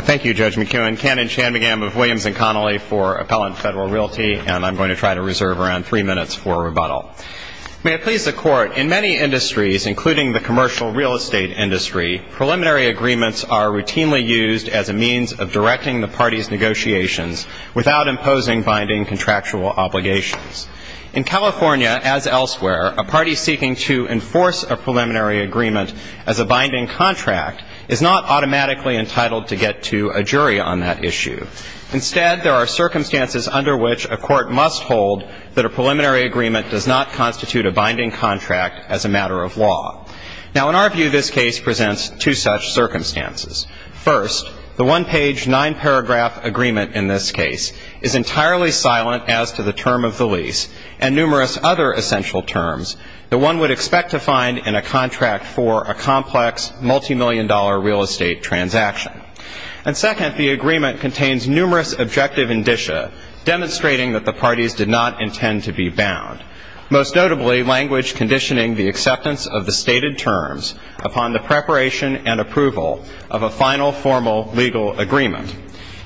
Thank you, Judge McKeown. Canon Chanmigam of Williams & Connolly for Appellant Federal Realty, and I'm going to try to reserve around three minutes for rebuttal. May it please the Court, in many industries, including the commercial real estate industry, preliminary agreements are routinely used as a means of directing the parties' negotiations without imposing binding contractual obligations. In California, as elsewhere, a party seeking to enforce a preliminary agreement as a binding contract is not automatically entitled to get to a jury on that issue. Instead, there are circumstances under which a court must hold that a preliminary agreement does not constitute a binding contract as a matter of law. Now, in our view, this case presents two such circumstances. First, the one-page, nine-paragraph agreement in this case is entirely silent as to the term of the lease and numerous other essential terms that one would expect to find in a contract for a complex, multimillion-dollar real estate transaction. And second, the agreement contains numerous objective indicia demonstrating that the parties did not intend to be bound, most notably language conditioning the acceptance of the stated terms upon the preparation and approval of a final formal legal agreement,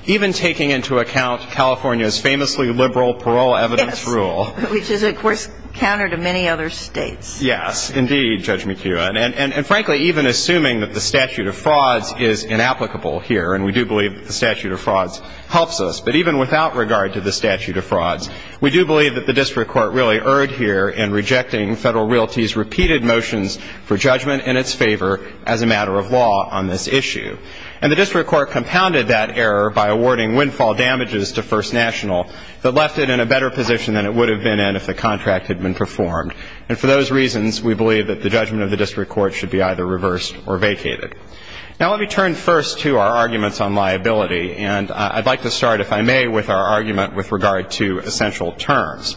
even taking into account California's famously liberal parole evidence rule. Yes, which is, of course, counter to many other states. Yes, indeed, Judge McHugh. And frankly, even assuming that the statute of frauds is inapplicable here, and we do believe that the statute of frauds helps us, but even without regard to the statute of frauds, we do believe that the district court really erred here in rejecting Federal Realty's repeated motions for judgment in its favor as a matter of law on this issue. And the district court compounded that error by awarding windfall damages to First National that left it in a better position than it would have been in if the contract had been performed. And for those reasons, we believe that the judgment of the district court should be either reversed or vacated. Now, let me turn first to our arguments on liability. And I'd like to start, if I may, with our argument with regard to essential terms.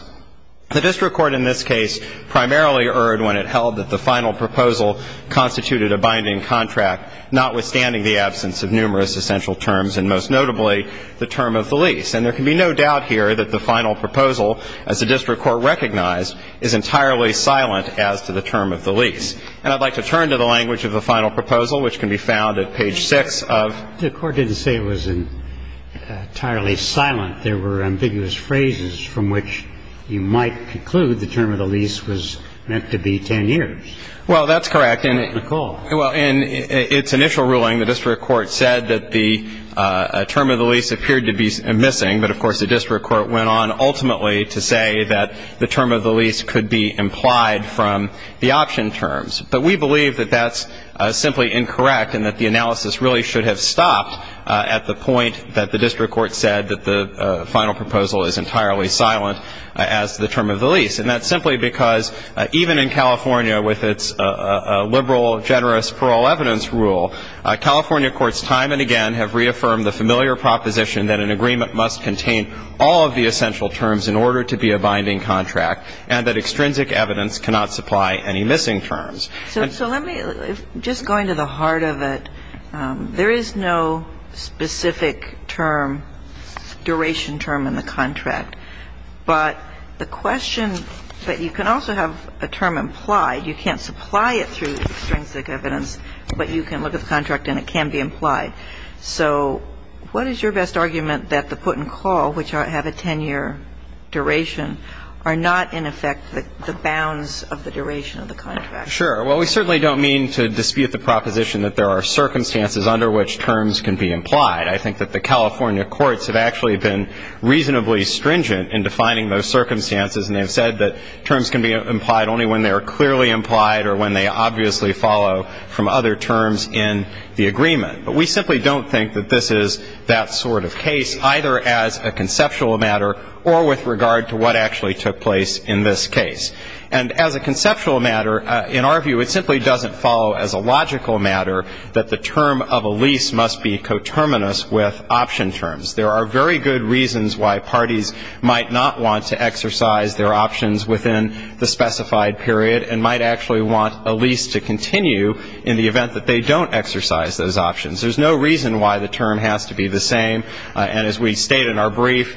The district court in this case primarily erred when it held that the final proposal constituted a binding contract, notwithstanding the absence of numerous essential terms and, most notably, the term of the lease. And there can be no doubt here that the final proposal, as the district court recognized, is entirely silent as to the term of the lease. And I'd like to turn to the language of the final proposal, which can be found at page 6 of the court. The court didn't say it was entirely silent. There were ambiguous phrases from which you might conclude the term of the lease was meant to be 10 years. Well, that's correct. And, Nicole? Well, in its initial ruling, the district court said that the term of the lease appeared to be missing. But, of course, the district court went on, ultimately, to say that the term of the lease could be implied from the option terms. But we believe that that's simply incorrect and that the analysis really should have stopped at the point that the district court said that the final proposal is entirely silent as to the term of the lease. And that's simply because even in California, with its liberal, generous parole evidence rule, California courts time and again have reaffirmed the familiar proposition that an agreement must contain all of the essential terms in order to be a binding contract and that extrinsic evidence cannot supply any missing terms. So let me, just going to the heart of it, there is no specific term, duration term in the contract. But the question, but you can also have a term implied. You can't supply it through extrinsic evidence, but you can look at the contract and it can be implied. So what is your best argument that the put and call, which have a 10-year duration, are not, in effect, the bounds of the duration of the contract? Sure. Well, we certainly don't mean to dispute the proposition that there are circumstances under which terms can be implied. I think that the California courts have actually been reasonably stringent in defining those circumstances, and they have said that terms can be implied only when they are clearly implied or when they obviously follow from other terms in the agreement. But we simply don't think that this is that sort of case, either as a conceptual matter or with regard to what actually took place in this case. And as a conceptual matter, in our view, it simply doesn't follow as a logical matter that the term of a lease must be coterminous with option terms. There are very good reasons why parties might not want to exercise their options within the specified period and might actually want a lease to continue in the event that they don't exercise those options. There's no reason why the term has to be the same. And as we state in our brief,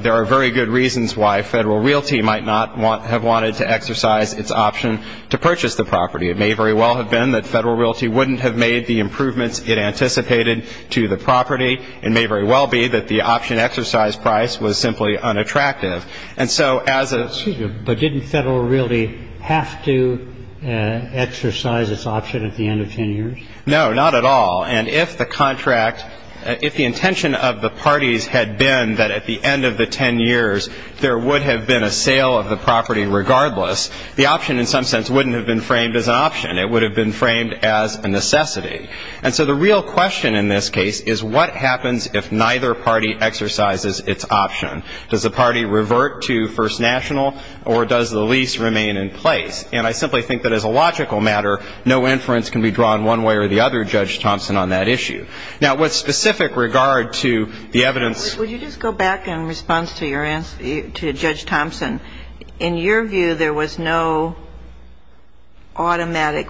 there are very good reasons why Federal Realty might not have wanted to exercise its option to purchase the property. It may very well have been that Federal Realty wouldn't have made the improvements it anticipated to the property. It may very well be that the option exercise price was simply unattractive. But didn't Federal Realty have to exercise its option at the end of 10 years? No, not at all. And if the contract, if the intention of the parties had been that at the end of the 10 years there would have been a sale of the property regardless, the option in some sense wouldn't have been framed as an option. It would have been framed as a necessity. And so the real question in this case is what happens if neither party exercises its option? Does the party revert to First National or does the lease remain in place? And I simply think that as a logical matter, no inference can be drawn one way or the other, Judge Thompson, on that issue. Now, with specific regard to the evidence ---- Would you just go back in response to your answer, to Judge Thompson? In your view, there was no automatic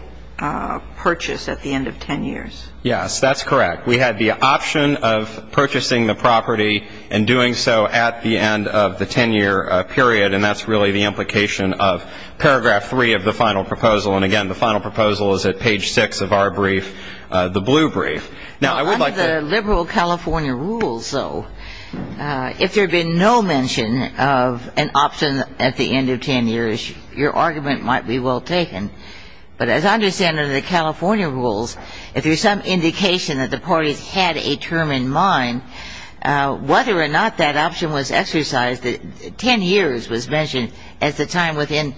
purchase at the end of 10 years. Yes, that's correct. We had the option of purchasing the property and doing so at the end of the 10-year period, and that's really the implication of paragraph 3 of the final proposal. And, again, the final proposal is at page 6 of our brief, the blue brief. Now, I would like to ---- Under the liberal California rules, though, if there had been no mention of an option at the end of 10 years, your argument might be well taken. But as I understand under the California rules, if there's some indication that the parties had a term in mind, whether or not that option was exercised, 10 years was mentioned as the time within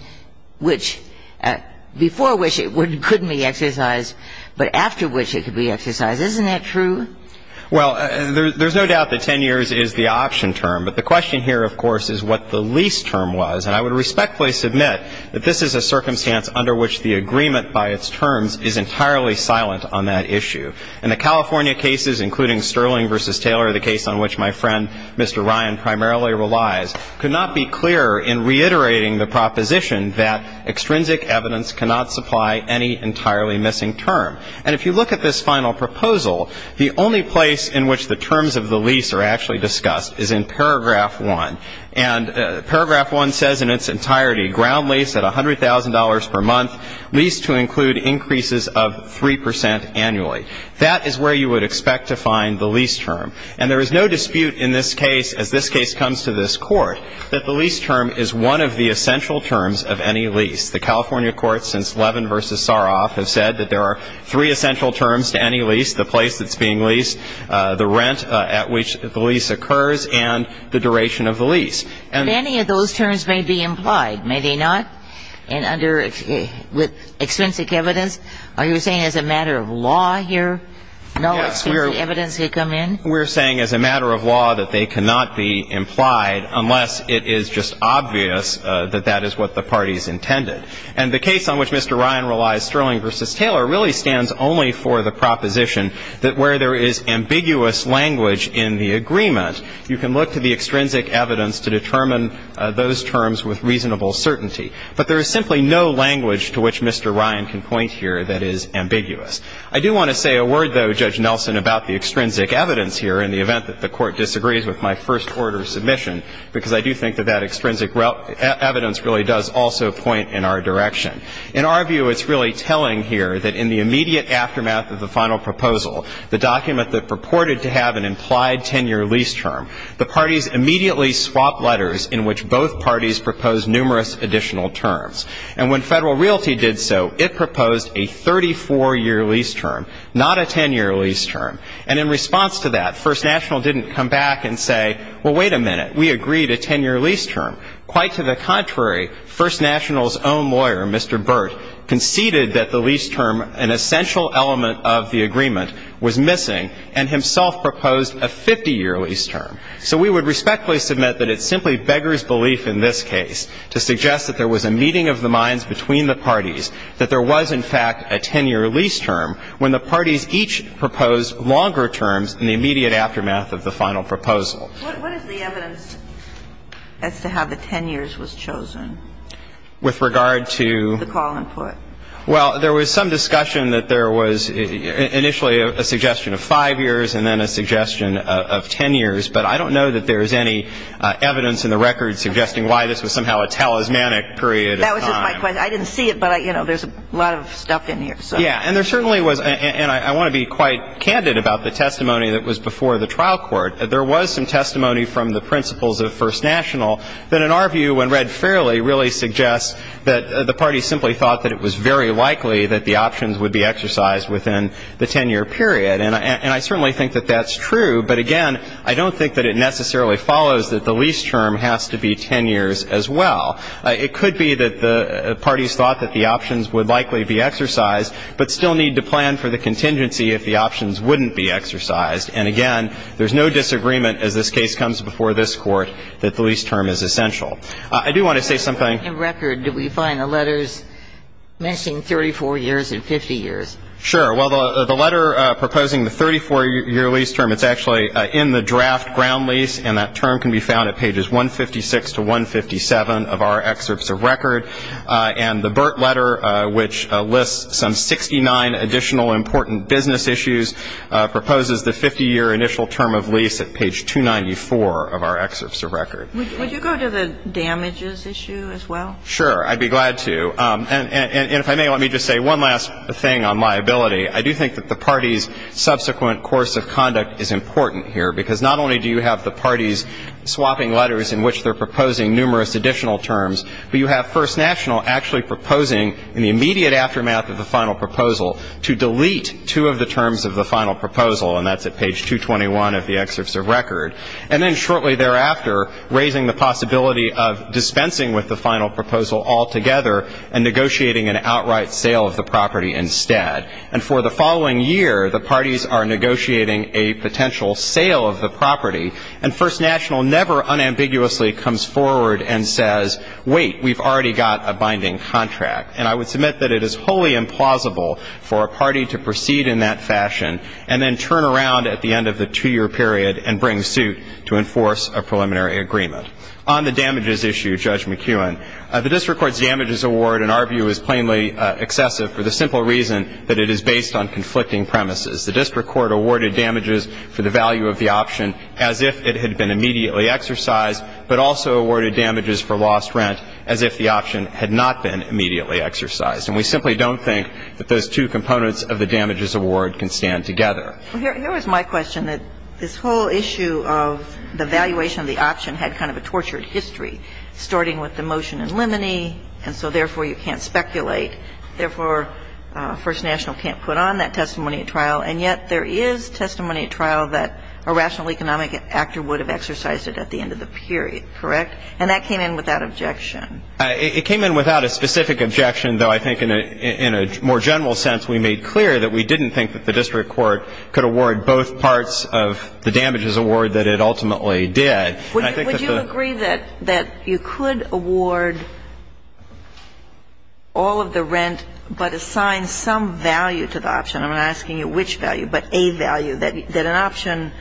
which ---- before which it couldn't be exercised, but after which it could be exercised. Isn't that true? Well, there's no doubt that 10 years is the option term. But the question here, of course, is what the lease term was. And I would respectfully submit that this is a circumstance under which the agreement by its terms is entirely silent on that issue. And the California cases, including Sterling v. Taylor, the case on which my friend, Mr. Ryan, primarily relies, could not be clearer in reiterating the proposition that extrinsic evidence cannot supply any entirely missing term. And if you look at this final proposal, the only place in which the terms of the lease are actually discussed is in paragraph 1. And paragraph 1 says in its entirety, ground lease at $100,000 per month, lease to include increases of 3 percent annually. That is where you would expect to find the lease term. And there is no dispute in this case, as this case comes to this Court, that the lease term is one of the essential terms of any lease. The California courts, since Levin v. Saroff, have said that there are three essential terms to any lease, the place that's being leased, the rent at which the lease occurs, and the duration of the lease. And any of those terms may be implied, may they not? And under extrinsic evidence, are you saying as a matter of law here, no extrinsic evidence could come in? We're saying as a matter of law that they cannot be implied unless it is just obvious that that is what the parties intended. And the case on which Mr. Ryan relies, Sterling v. Taylor, really stands only for the proposition that where there is ambiguous language in the agreement, you can look to the extrinsic evidence to determine those terms with reasonable certainty. But there is simply no language to which Mr. Ryan can point here that is ambiguous. I do want to say a word, though, Judge Nelson, about the extrinsic evidence here in the event that the Court disagrees with my first-order submission, because I do think that that extrinsic evidence really does also point in our direction. In our view, it's really telling here that in the immediate aftermath of the final proposal, the document that purported to have an implied 10-year lease term, the parties immediately swapped letters in which both parties proposed numerous additional terms. And when Federal Realty did so, it proposed a 34-year lease term, not a 10-year lease term. And in response to that, First National didn't come back and say, well, wait a minute, we agreed a 10-year lease term. Quite to the contrary, First National's own lawyer, Mr. Burt, conceded that the lease term, an essential element of the agreement, was missing and himself proposed a 50-year lease term. So we would respectfully submit that it's simply beggar's belief in this case to suggest that there was a meeting of the minds between the parties, that there was, in fact, a 10-year lease term when the parties each proposed longer terms in the immediate aftermath of the final proposal. What is the evidence as to how the 10 years was chosen? With regard to? The call in court. Well, there was some discussion that there was initially a suggestion of 5 years and then a suggestion of 10 years. But I don't know that there is any evidence in the record suggesting why this was somehow a talismanic period of time. That was just my question. I didn't see it, but, you know, there's a lot of stuff in here. Yeah. And there certainly was, and I want to be quite candid about the testimony that was before the trial court. There was some testimony from the principals of First National that, in our view, when read fairly, really suggests that the parties simply thought that it was very likely that the options would be exercised within the 10-year period. And I certainly think that that's true. But, again, I don't think that it necessarily follows that the lease term has to be 10 years as well. It could be that the parties thought that the options would likely be exercised but still need to plan for the contingency if the options wouldn't be exercised. And, again, there's no disagreement as this case comes before this Court that the lease term is essential. I do want to say something. In the record, do we find the letters mentioning 34 years and 50 years? Sure. Well, the letter proposing the 34-year lease term, it's actually in the draft ground lease, and that term can be found at pages 156 to 157 of our excerpts of record. And the Burtt letter, which lists some 69 additional important business issues, proposes the 50-year initial term of lease at page 294 of our excerpts of record. Would you go to the damages issue as well? Sure. I'd be glad to. And if I may, let me just say one last thing on liability. I do think that the parties' subsequent course of conduct is important here, because not only do you have the parties swapping letters in which they're proposing numerous additional terms, but you have First National actually proposing, in the immediate aftermath of the final proposal, to delete two of the terms of the final proposal, and that's at page 221 of the excerpts of record, and then shortly thereafter raising the possibility of dispensing with the final proposal altogether and negotiating an outright sale of the property instead. And for the following year, the parties are negotiating a potential sale of the property, and First National never unambiguously comes forward and says, wait, we've already got a binding contract. And I would submit that it is wholly implausible for a party to proceed in that fashion and then turn around at the end of the two-year period and bring suit to enforce a preliminary agreement. On the damages issue, Judge McKeown, the district court's damages award, in our view, is plainly excessive for the simple reason that it is based on conflicting premises. The district court awarded damages for the value of the option as if it had been immediately exercised, but also awarded damages for lost rent as if the option had not been immediately exercised. And we simply don't think that those two components of the damages award can stand together. Here is my question, that this whole issue of the valuation of the option had kind of a tortured history, starting with the motion in limine, and so therefore you can't speculate. Therefore, First National can't put on that testimony at trial, and yet there is testimony at trial that a rational economic actor would have exercised it at the end of the period. Correct? And that came in without objection. It came in without a specific objection, though I think in a more general sense we made clear that we didn't think that the district court could award both parts of the damages award that it ultimately did. Would you agree that you could award all of the rent but assign some value to the option? I'm not asking you which value, but a value, that an option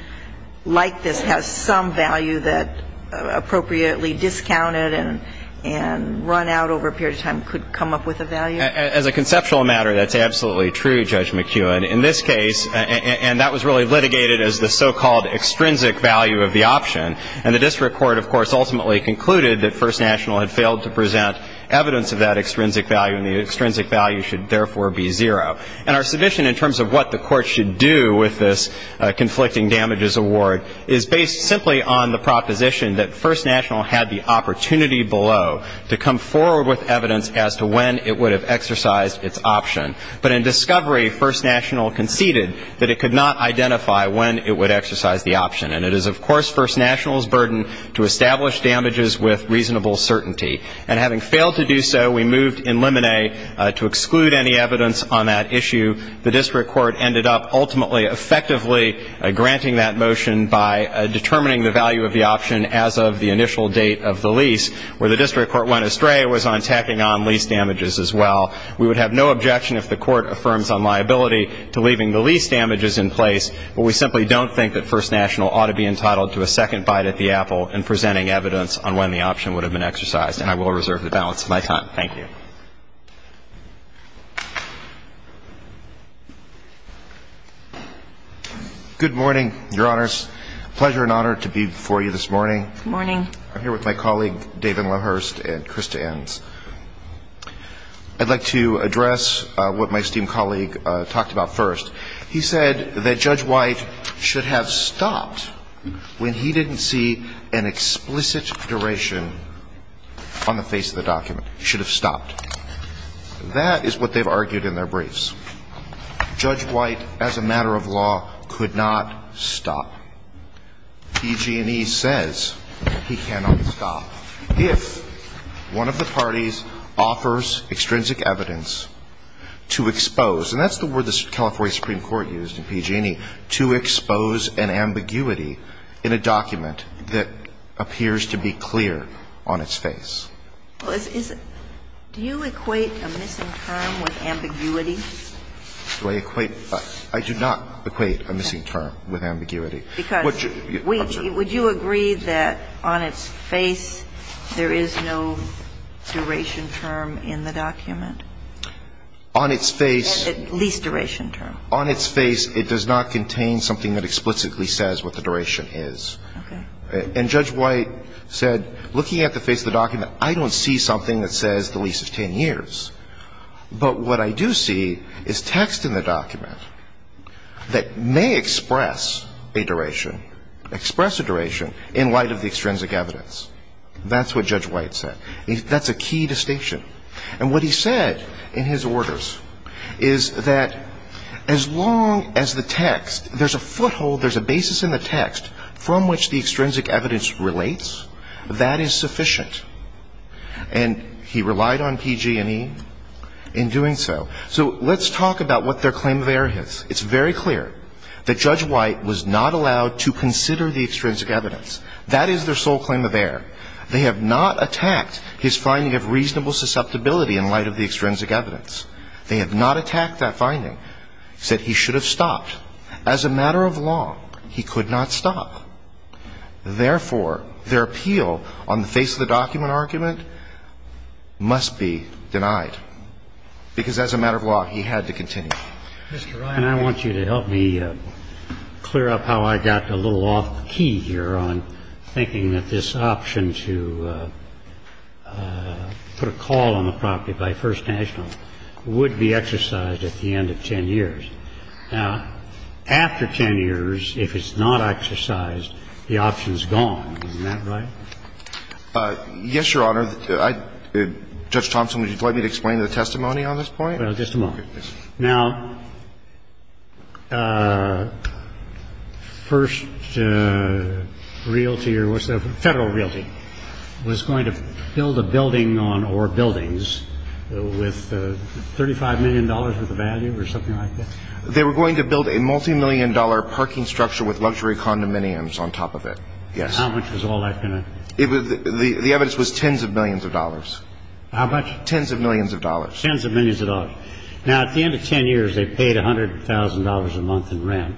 like this has some value that appropriately discounted and run out over a period of time could come up with a value? As a conceptual matter, that's absolutely true, Judge McKeown. In this case, and that was really litigated as the so-called extrinsic value of the option, and the district court, of course, ultimately concluded that First National had failed to present evidence of that extrinsic value and the extrinsic value should therefore be zero. And our submission in terms of what the court should do with this conflicting damages award is based simply on the proposition that First National had the opportunity below to come forward with evidence as to when it would have exercised its option. But in discovery, First National conceded that it could not identify when it would exercise the option. And it is, of course, First National's burden to establish damages with reasonable certainty. And having failed to do so, we moved in limine to exclude any evidence on that issue. The district court ended up ultimately effectively granting that motion by determining the value of the option as of the initial date of the lease. Where the district court went astray was on tacking on lease damages as well. We would have no objection if the court affirms on liability to leaving the lease damages in place, but we simply don't think that First National ought to be entitled to a second bite at the apple in presenting evidence on when the option would have been exercised. And I will reserve the balance of my time. Thank you. Roberts. Good morning, Your Honors. Pleasure and honor to be before you this morning. Good morning. I'm here with my colleague, David Loehrst, and Krista Enns. I'd like to address what my esteemed colleague talked about first. He said that Judge White should have stopped when he didn't see an explicit duration on the face of the document. He should have stopped. That is what they've argued in their briefs. Judge White, as a matter of law, could not stop. PG&E says he cannot stop if one of the parties offers extrinsic evidence to expose an ambiguity in a document that appears to be clear on its face. Do you equate a missing term with ambiguity? Do I equate? I do not equate a missing term with ambiguity. Because would you agree that on its face there is no duration term in the document? On its face. Least duration term. On its face, it does not contain something that explicitly says what the duration is. Okay. And Judge White said, looking at the face of the document, I don't see something that says the least is 10 years. But what I do see is text in the document that may express a duration, express a duration in light of the extrinsic evidence. That's what Judge White said. That's a key distinction. And what he said in his orders is that as long as the text, there's a foothold, there's a basis in the text from which the extrinsic evidence relates, that is sufficient. And he relied on PG&E in doing so. So let's talk about what their claim of error is. It's very clear that Judge White was not allowed to consider the extrinsic evidence. That is their sole claim of error. They have not attacked his finding of reasonable susceptibility in light of the extrinsic evidence. They have not attacked that finding. He said he should have stopped. As a matter of law, he could not stop. Therefore, their appeal on the face of the document argument must be denied. Because as a matter of law, he had to continue. Mr. Ryan, I want you to help me clear up how I got a little off key here on thinking that this option to put a call on the property by First National would be exercised at the end of 10 years. Now, after 10 years, if it's not exercised, the option is gone. Isn't that right? Yes, Your Honor. Judge Thompson, would you like me to explain the testimony on this point? Well, just a moment. Now, First Realty or Federal Realty was going to build a building or buildings with $35 million worth of value or something like that? They were going to build a multimillion-dollar parking structure with luxury condominiums on top of it. Yes. How much was all that going to? The evidence was tens of millions of dollars. How much? Tens of millions of dollars. Now, at the end of 10 years, they paid $100,000 a month in rent.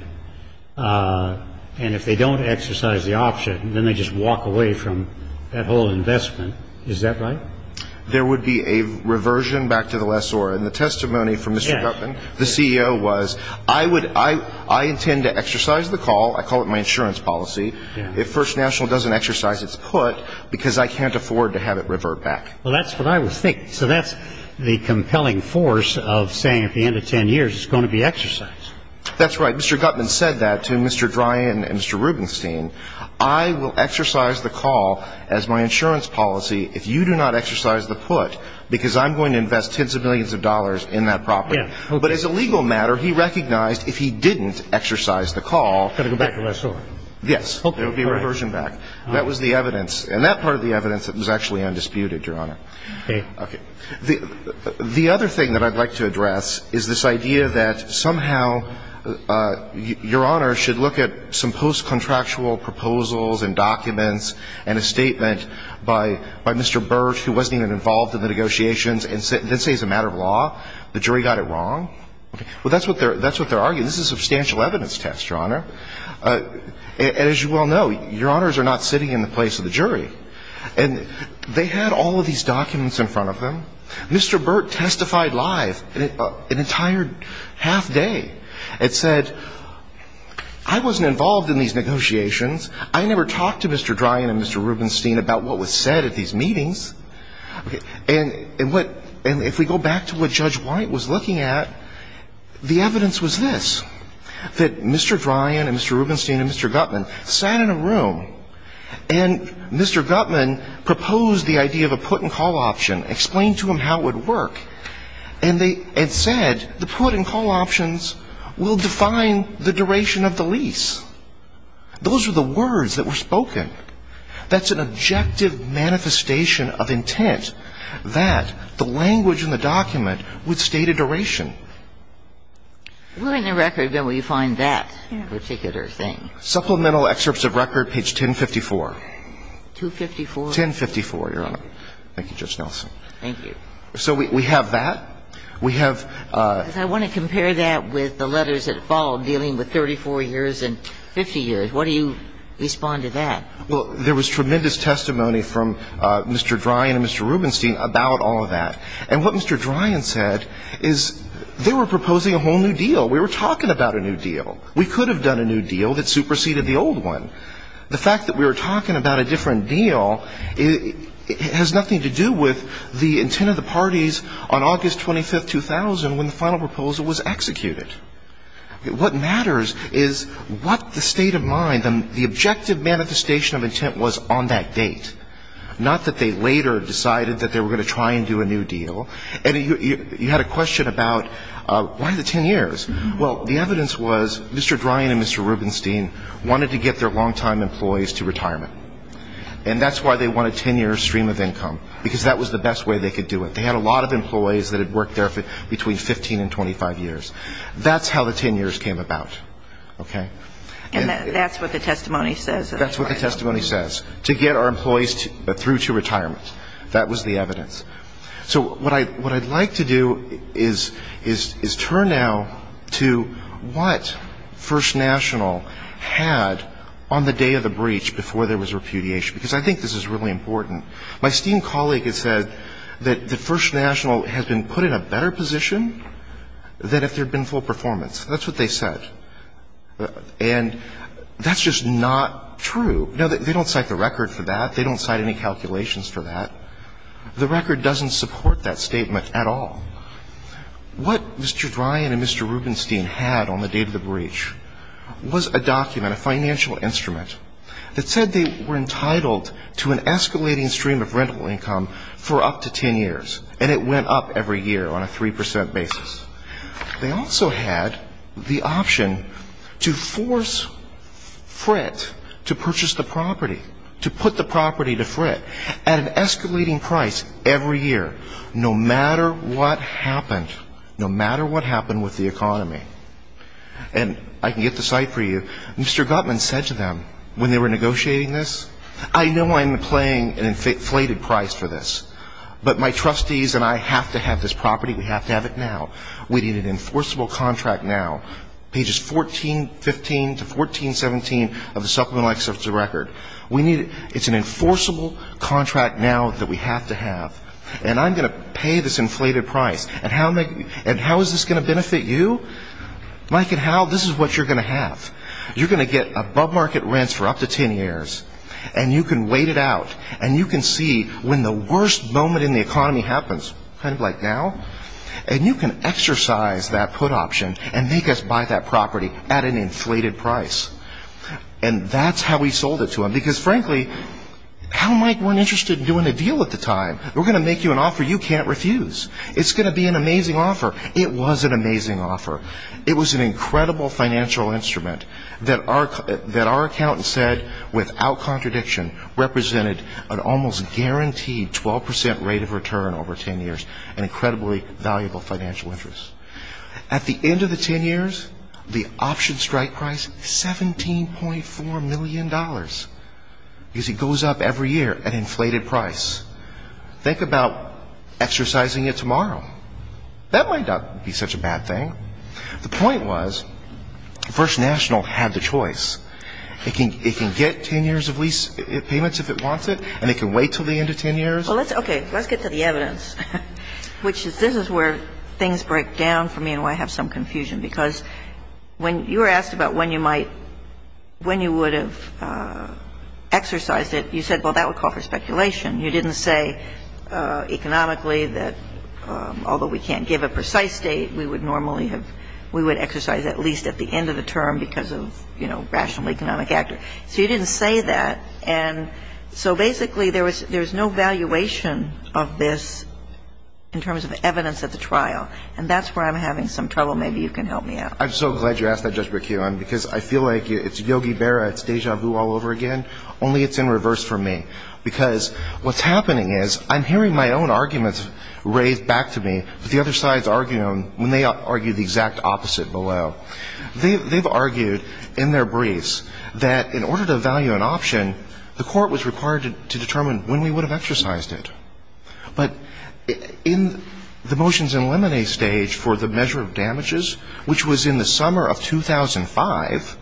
And if they don't exercise the option, then they just walk away from that whole investment. Is that right? There would be a reversion back to the lessor. And the testimony from Mr. Gutman, the CEO, was I intend to exercise the call. I call it my insurance policy. If First National doesn't exercise its put, because I can't afford to have it revert back. Well, that's what I was thinking. So that's the compelling force of saying at the end of 10 years, it's going to be exercised. That's right. Mr. Gutman said that to Mr. Dryan and Mr. Rubenstein. I will exercise the call as my insurance policy if you do not exercise the put, because I'm going to invest tens of millions of dollars in that property. But as a legal matter, he recognized if he didn't exercise the call. It would go back to the lessor. Yes. There would be a reversion back. That was the evidence. And that part of the evidence was actually undisputed, Your Honor. Okay. The other thing that I'd like to address is this idea that somehow Your Honor should look at some post-contractual proposals and documents and a statement by Mr. Burt, who wasn't even involved in the negotiations, and then say it's a matter of law. The jury got it wrong. Well, that's what they're arguing. This is a substantial evidence test, Your Honor. And as you well know, Your Honors are not sitting in the place of the jury. And they had all of these documents in front of them. Mr. Burt testified live an entire half day and said, I wasn't involved in these negotiations. I never talked to Mr. Dryan and Mr. Rubenstein about what was said at these meetings. And if we go back to what Judge White was looking at, the evidence was this, that Mr. Guttman proposed the idea of a put-and-call option, explained to him how it would work, and they said the put-and-call options will define the duration of the lease. Those were the words that were spoken. That's an objective manifestation of intent, that the language in the document would state a duration. We're in the record where we find that particular thing. Supplemental excerpts of record, page 1054. 254? 1054, Your Honor. Thank you. Thank you, Judge Nelson. Thank you. So we have that. We have ---- I want to compare that with the letters that followed dealing with 34 years and 50 years. What do you respond to that? Well, there was tremendous testimony from Mr. Dryan and Mr. Rubenstein about all of that. And what Mr. Dryan said is they were proposing a whole new deal. We were talking about a new deal. We could have done a new deal that superseded the old one. The fact that we were talking about a different deal has nothing to do with the intent of the parties on August 25th, 2000, when the final proposal was executed. What matters is what the state of mind, the objective manifestation of intent was on that date, not that they later decided that they were going to try and do a new deal. And you had a question about why the 10 years. Well, the evidence was Mr. Dryan and Mr. Rubenstein wanted to get their long-time employees to retirement. And that's why they wanted 10 years stream of income, because that was the best way they could do it. They had a lot of employees that had worked there between 15 and 25 years. That's how the 10 years came about. Okay? And that's what the testimony says. That's what the testimony says, to get our employees through to retirement. That was the evidence. So what I'd like to do is turn now to what First National had on the day of the breach before there was repudiation, because I think this is really important. My esteemed colleague has said that First National has been put in a better position than if there had been full performance. That's what they said. And that's just not true. They don't cite the record for that. They don't cite any calculations for that. The record doesn't support that statement at all. What Mr. Dryan and Mr. Rubenstein had on the day of the breach was a document, a financial instrument, that said they were entitled to an escalating stream of rental income for up to 10 years. And it went up every year on a 3 percent basis. They also had the option to force Frit to purchase the property, to put the property to Frit, at an escalating price every year, no matter what happened, no matter what happened with the economy. And I can get the site for you. Mr. Gutman said to them when they were negotiating this, I know I'm paying an inflated price for this, but my trustees and I have to have this property. We have to have it now. We need an enforceable contract now. Pages 14, 15 to 14, 17 of the supplemental excerpts of the record. It's an enforceable contract now that we have to have. And I'm going to pay this inflated price. And how is this going to benefit you? Mike and Hal, this is what you're going to have. You're going to get above market rents for up to 10 years. And you can wait it out. And you can see when the worst moment in the economy happens, kind of like now. And you can exercise that put option and make us buy that property at an inflated price. And that's how we sold it to them. Because, frankly, Hal and Mike weren't interested in doing a deal at the time. We're going to make you an offer you can't refuse. It's going to be an amazing offer. It was an amazing offer. It was an incredible financial instrument that our accountant said, without contradiction, represented an almost guaranteed 12 percent rate of return over 10 years, an incredibly valuable financial interest. At the end of the 10 years, the option strike price, $17.4 million. Because it goes up every year at an inflated price. Think about exercising it tomorrow. That might not be such a bad thing. The point was First National had the choice. It can get 10 years of lease payments if it wants it. And it can wait until the end of 10 years. Well, let's, okay, let's get to the evidence, which is this is where things break down for me and why I have some confusion. Because when you were asked about when you might, when you would have exercised it, you said, well, that would call for speculation. You didn't say economically that although we can't give a precise date, we would normally have, we would exercise at least at the end of the term because of, you know, rational economic actor. So you didn't say that. And so basically there was no valuation of this in terms of evidence at the trial. And that's where I'm having some trouble. Maybe you can help me out. I'm so glad you asked that, Judge Braccio. Because I feel like it's Yogi Berra, it's deja vu all over again, only it's in reverse for me. Because what's happening is I'm hearing my own arguments raised back to me, but the other side is arguing them when they argue the exact opposite below. Well, they've argued in their briefs that in order to value an option, the court was required to determine when we would have exercised it. But in the motions in lemonade stage for the measure of damages, which was in the summer of 2005,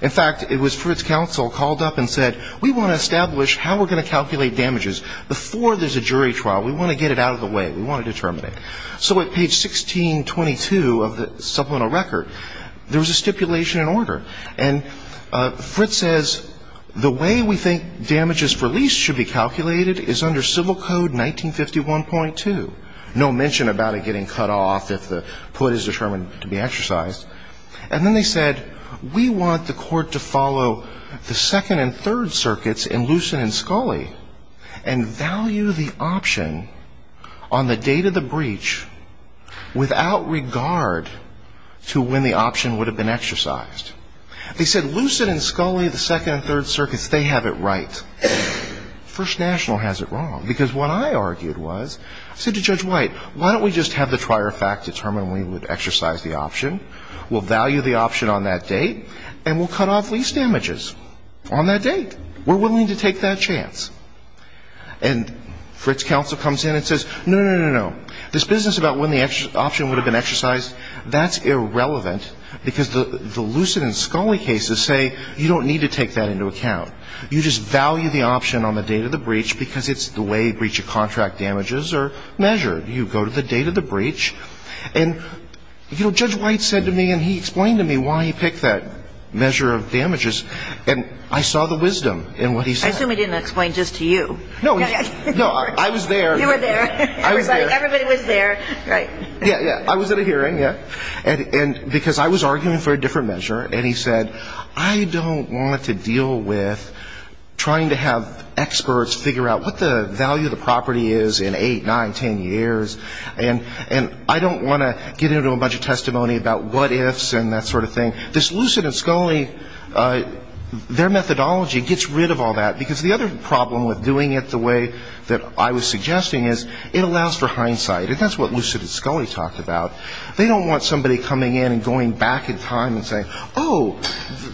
in fact, it was Fritz Counsel called up and said, we want to establish how we're going to calculate damages before there's a jury trial. We want to get it out of the way. We want to determine it. So at page 1622 of the supplemental record, there was a stipulation in order. And Fritz says, the way we think damages released should be calculated is under civil code 1951.2. No mention about it getting cut off if the put is determined to be exercised. And then they said, we want the court to follow the second and third circuits in Lucin and Scully and value the option on the date of the breach without regard to when the option would have been exercised. They said Lucin and Scully, the second and third circuits, they have it right. First National has it wrong. Because what I argued was, I said to Judge White, why don't we just have the trier fact determine when we would exercise the option. We'll value the option on that date, and we'll cut off lease damages on that date. We're willing to take that chance. And Fritz counsel comes in and says, no, no, no, no, no. This business about when the option would have been exercised, that's irrelevant. Because the Lucin and Scully cases say you don't need to take that into account. You just value the option on the date of the breach because it's the way breach of contract damages are measured. You go to the date of the breach. And, you know, Judge White said to me, and he explained to me why he picked that measure of damages. And I saw the wisdom in what he said. I assume he didn't explain just to you. No. No, I was there. You were there. Everybody was there. Right. Yeah, yeah. I was at a hearing, yeah. And because I was arguing for a different measure, and he said, I don't want to deal with trying to have experts figure out what the value of the property is in eight, nine, ten years. And I don't want to get into a bunch of testimony about what ifs and that sort of thing. This Lucin and Scully, their methodology gets rid of all that because the other problem with doing it the way that I was suggesting is it allows for hindsight. And that's what Lucin and Scully talked about. They don't want somebody coming in and going back in time and saying, oh,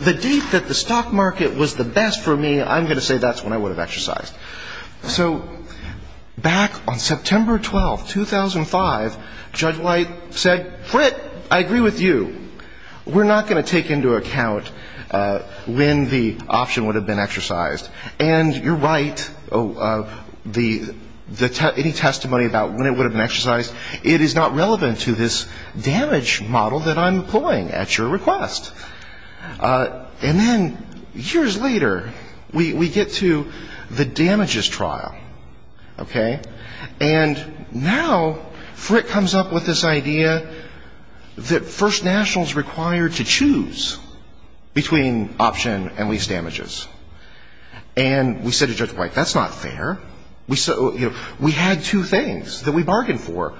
the date that the stock market was the best for me, I'm going to say that's when I would have exercised. So back on September 12th, 2005, Judge White said, Frit, I agree with you. We're not going to take into account when the option would have been exercised. And you're right, any testimony about when it would have been exercised, it is not relevant to this damage model that I'm employing at your request. And then years later, we get to the damages trial, okay? And now Frit comes up with this idea that First National is required to choose between option and lease damages. And we said to Judge White, that's not fair. We had two things that we bargained for.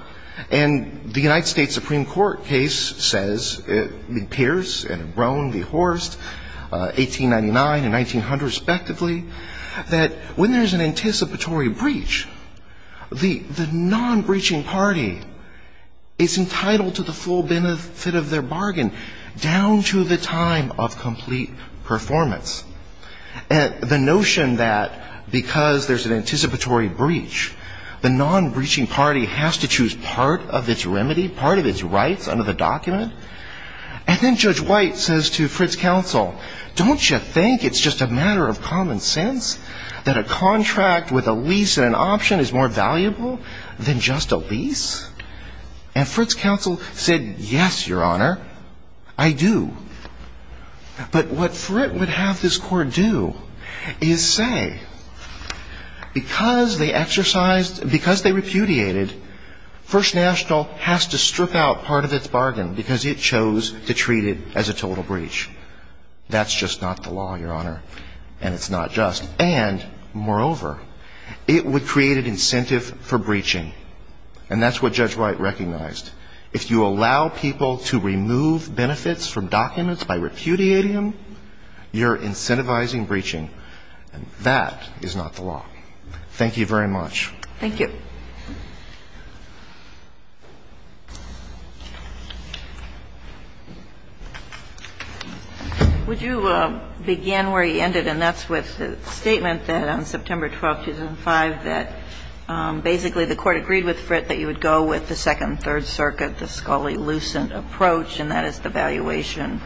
And the United States Supreme Court case says, it appears in Brown v. Horst, 1899 and 1900 respectively, that when there's an anticipatory breach, the non-breaching party is entitled to the full benefit of their bargain, down to the time of complete performance. And the notion that because there's an anticipatory breach, the non-breaching party has to choose part of its remedy, part of its rights under the document. And then Judge White says to Frit's counsel, don't you think it's just a matter of common sense that a contract with a lease and an option is more valuable than just a lease? And Frit's counsel said, yes, Your Honor, I do. But what Frit would have this court do is say, because they exercised, because they repudiated, First National has to strip out part of its bargain because it chose to treat it as a total breach. That's just not the law, Your Honor. And it's not just. And, moreover, it would create an incentive for breaching. And that's what Judge White recognized. If you allow people to remove benefits from documents by repudiating them, you're incentivizing breaching. And that is not the law. Thank you very much. Thank you. Would you begin where you ended, and that's with the statement that on September 12, 2005, that basically the Court agreed with Frit that you would go with the Second and Third Circuit, the Scully-Lucent approach, and that is the valuation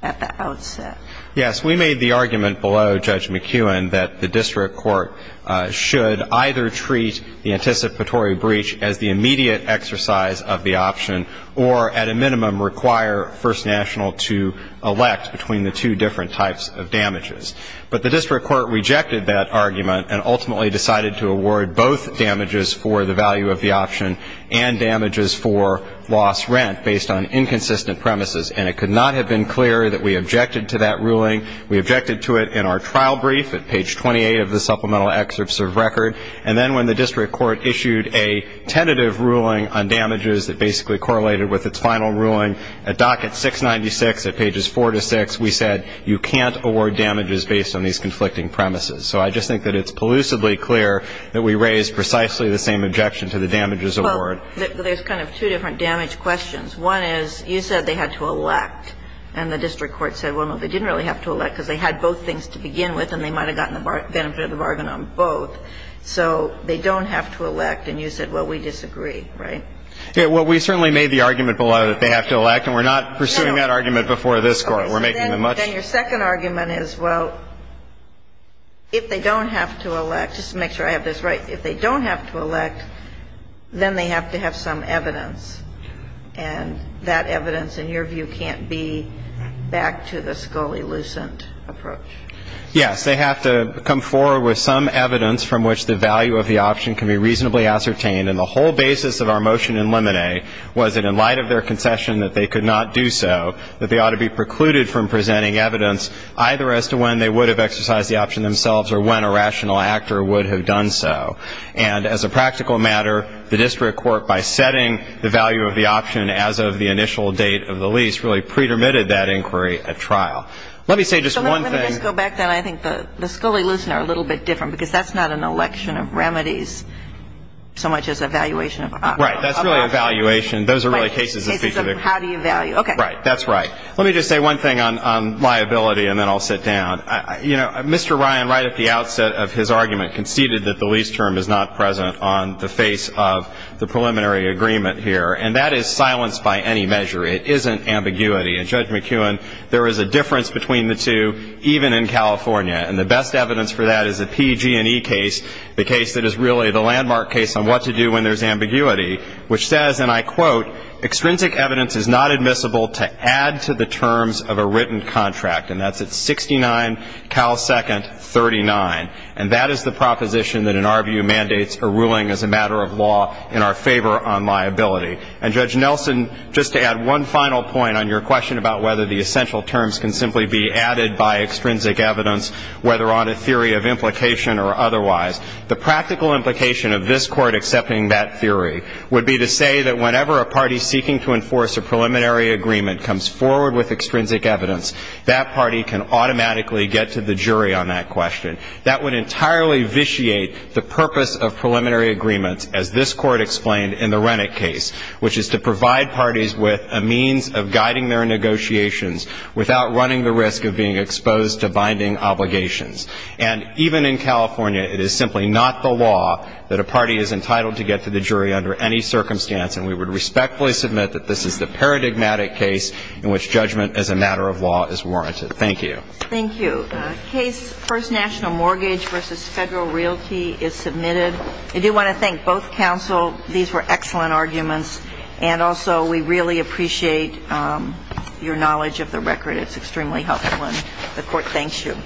at the outset. Yes. We made the argument below, Judge McKeown, that the district court should either treat the anticipatory breach as the immediate exercise of the option or, at a minimum, require First National to elect between the two different types of damages. But the district court rejected that argument and ultimately decided to award both damages for the value of the option and damages for lost rent based on inconsistent premises. And it could not have been clearer that we objected to that ruling. We objected to it in our trial brief at page 28 of the supplemental excerpts of record. And then when the district court issued a tentative ruling on damages that basically correlated with its final ruling at docket 696 at pages 4 to 6, we said you can't award damages based on these conflicting premises. So I just think that it's elusively clear that we raised precisely the same objection to the damages award. Well, there's kind of two different damage questions. One is you said they had to elect. And the district court said, well, no, they didn't really have to elect because they had both things to begin with and they might have gotten the benefit of the bargain on both. So they don't have to elect. And you said, well, we disagree, right? Yeah. Well, we certainly made the argument below that they have to elect. And we're not pursuing that argument before this Court. We're making the much ---- Then your second argument is, well, if they don't have to elect, just to make sure I have this right, if they don't have to elect, then they have to have some evidence. And that evidence, in your view, can't be back to the scully lucent approach. Yes. They have to come forward with some evidence from which the value of the option can be reasonably ascertained. And the whole basis of our motion in Lemonet was that in light of their concession that they could not do so, that they ought to be precluded from presenting evidence either as to when they would have exercised the option themselves or when a rational actor would have done so. And as a practical matter, the district court, by setting the value of the option as of the initial date of the lease, really pre-permitted that inquiry at trial. Let me say just one thing. So let me just go back then. I think the scully lucent are a little bit different, because that's not an election of remedies so much as evaluation of options. Right. That's really evaluation. Those are really cases of ---- Cases of how do you value. Okay. Right. That's right. Let me just say one thing on liability, and then I'll sit down. You know, Mr. Ryan, right at the outset of his argument, conceded that the lease term is not present on the face of the preliminary agreement here. And that is silenced by any measure. It isn't ambiguity. And Judge McEwen, there is a difference between the two even in California. And the best evidence for that is a PG&E case, the case that is really the landmark case on what to do when there's ambiguity, which says, and I quote, extrinsic evidence is not admissible to add to the terms of a written contract. And that's at 69 Cal Second 39. And that is the proposition that, in our view, mandates a ruling as a matter of law in our favor on liability. And, Judge Nelson, just to add one final point on your question about whether the essential terms can simply be added by extrinsic evidence, whether on a theory of implication or otherwise, the practical implication of this Court accepting that theory would be to say that whenever a party seeking to enforce a preliminary agreement comes forward with extrinsic evidence, that party can automatically get to the jury on that question. That would entirely vitiate the purpose of preliminary agreements, as this Court explained in the Rennick case, which is to provide parties with a means of guiding their negotiations without running the risk of being exposed to binding obligations. And even in California, it is simply not the law that a party is entitled to get to the jury under any circumstance, and we would respectfully submit that this is the paradigmatic case in which judgment as a matter of law is warranted. Thank you. Thank you. Case First National Mortgage v. Federal Realty is submitted. I do want to thank both counsel. These were excellent arguments. And also, we really appreciate your knowledge of the record. It's extremely helpful, and the Court thanks you.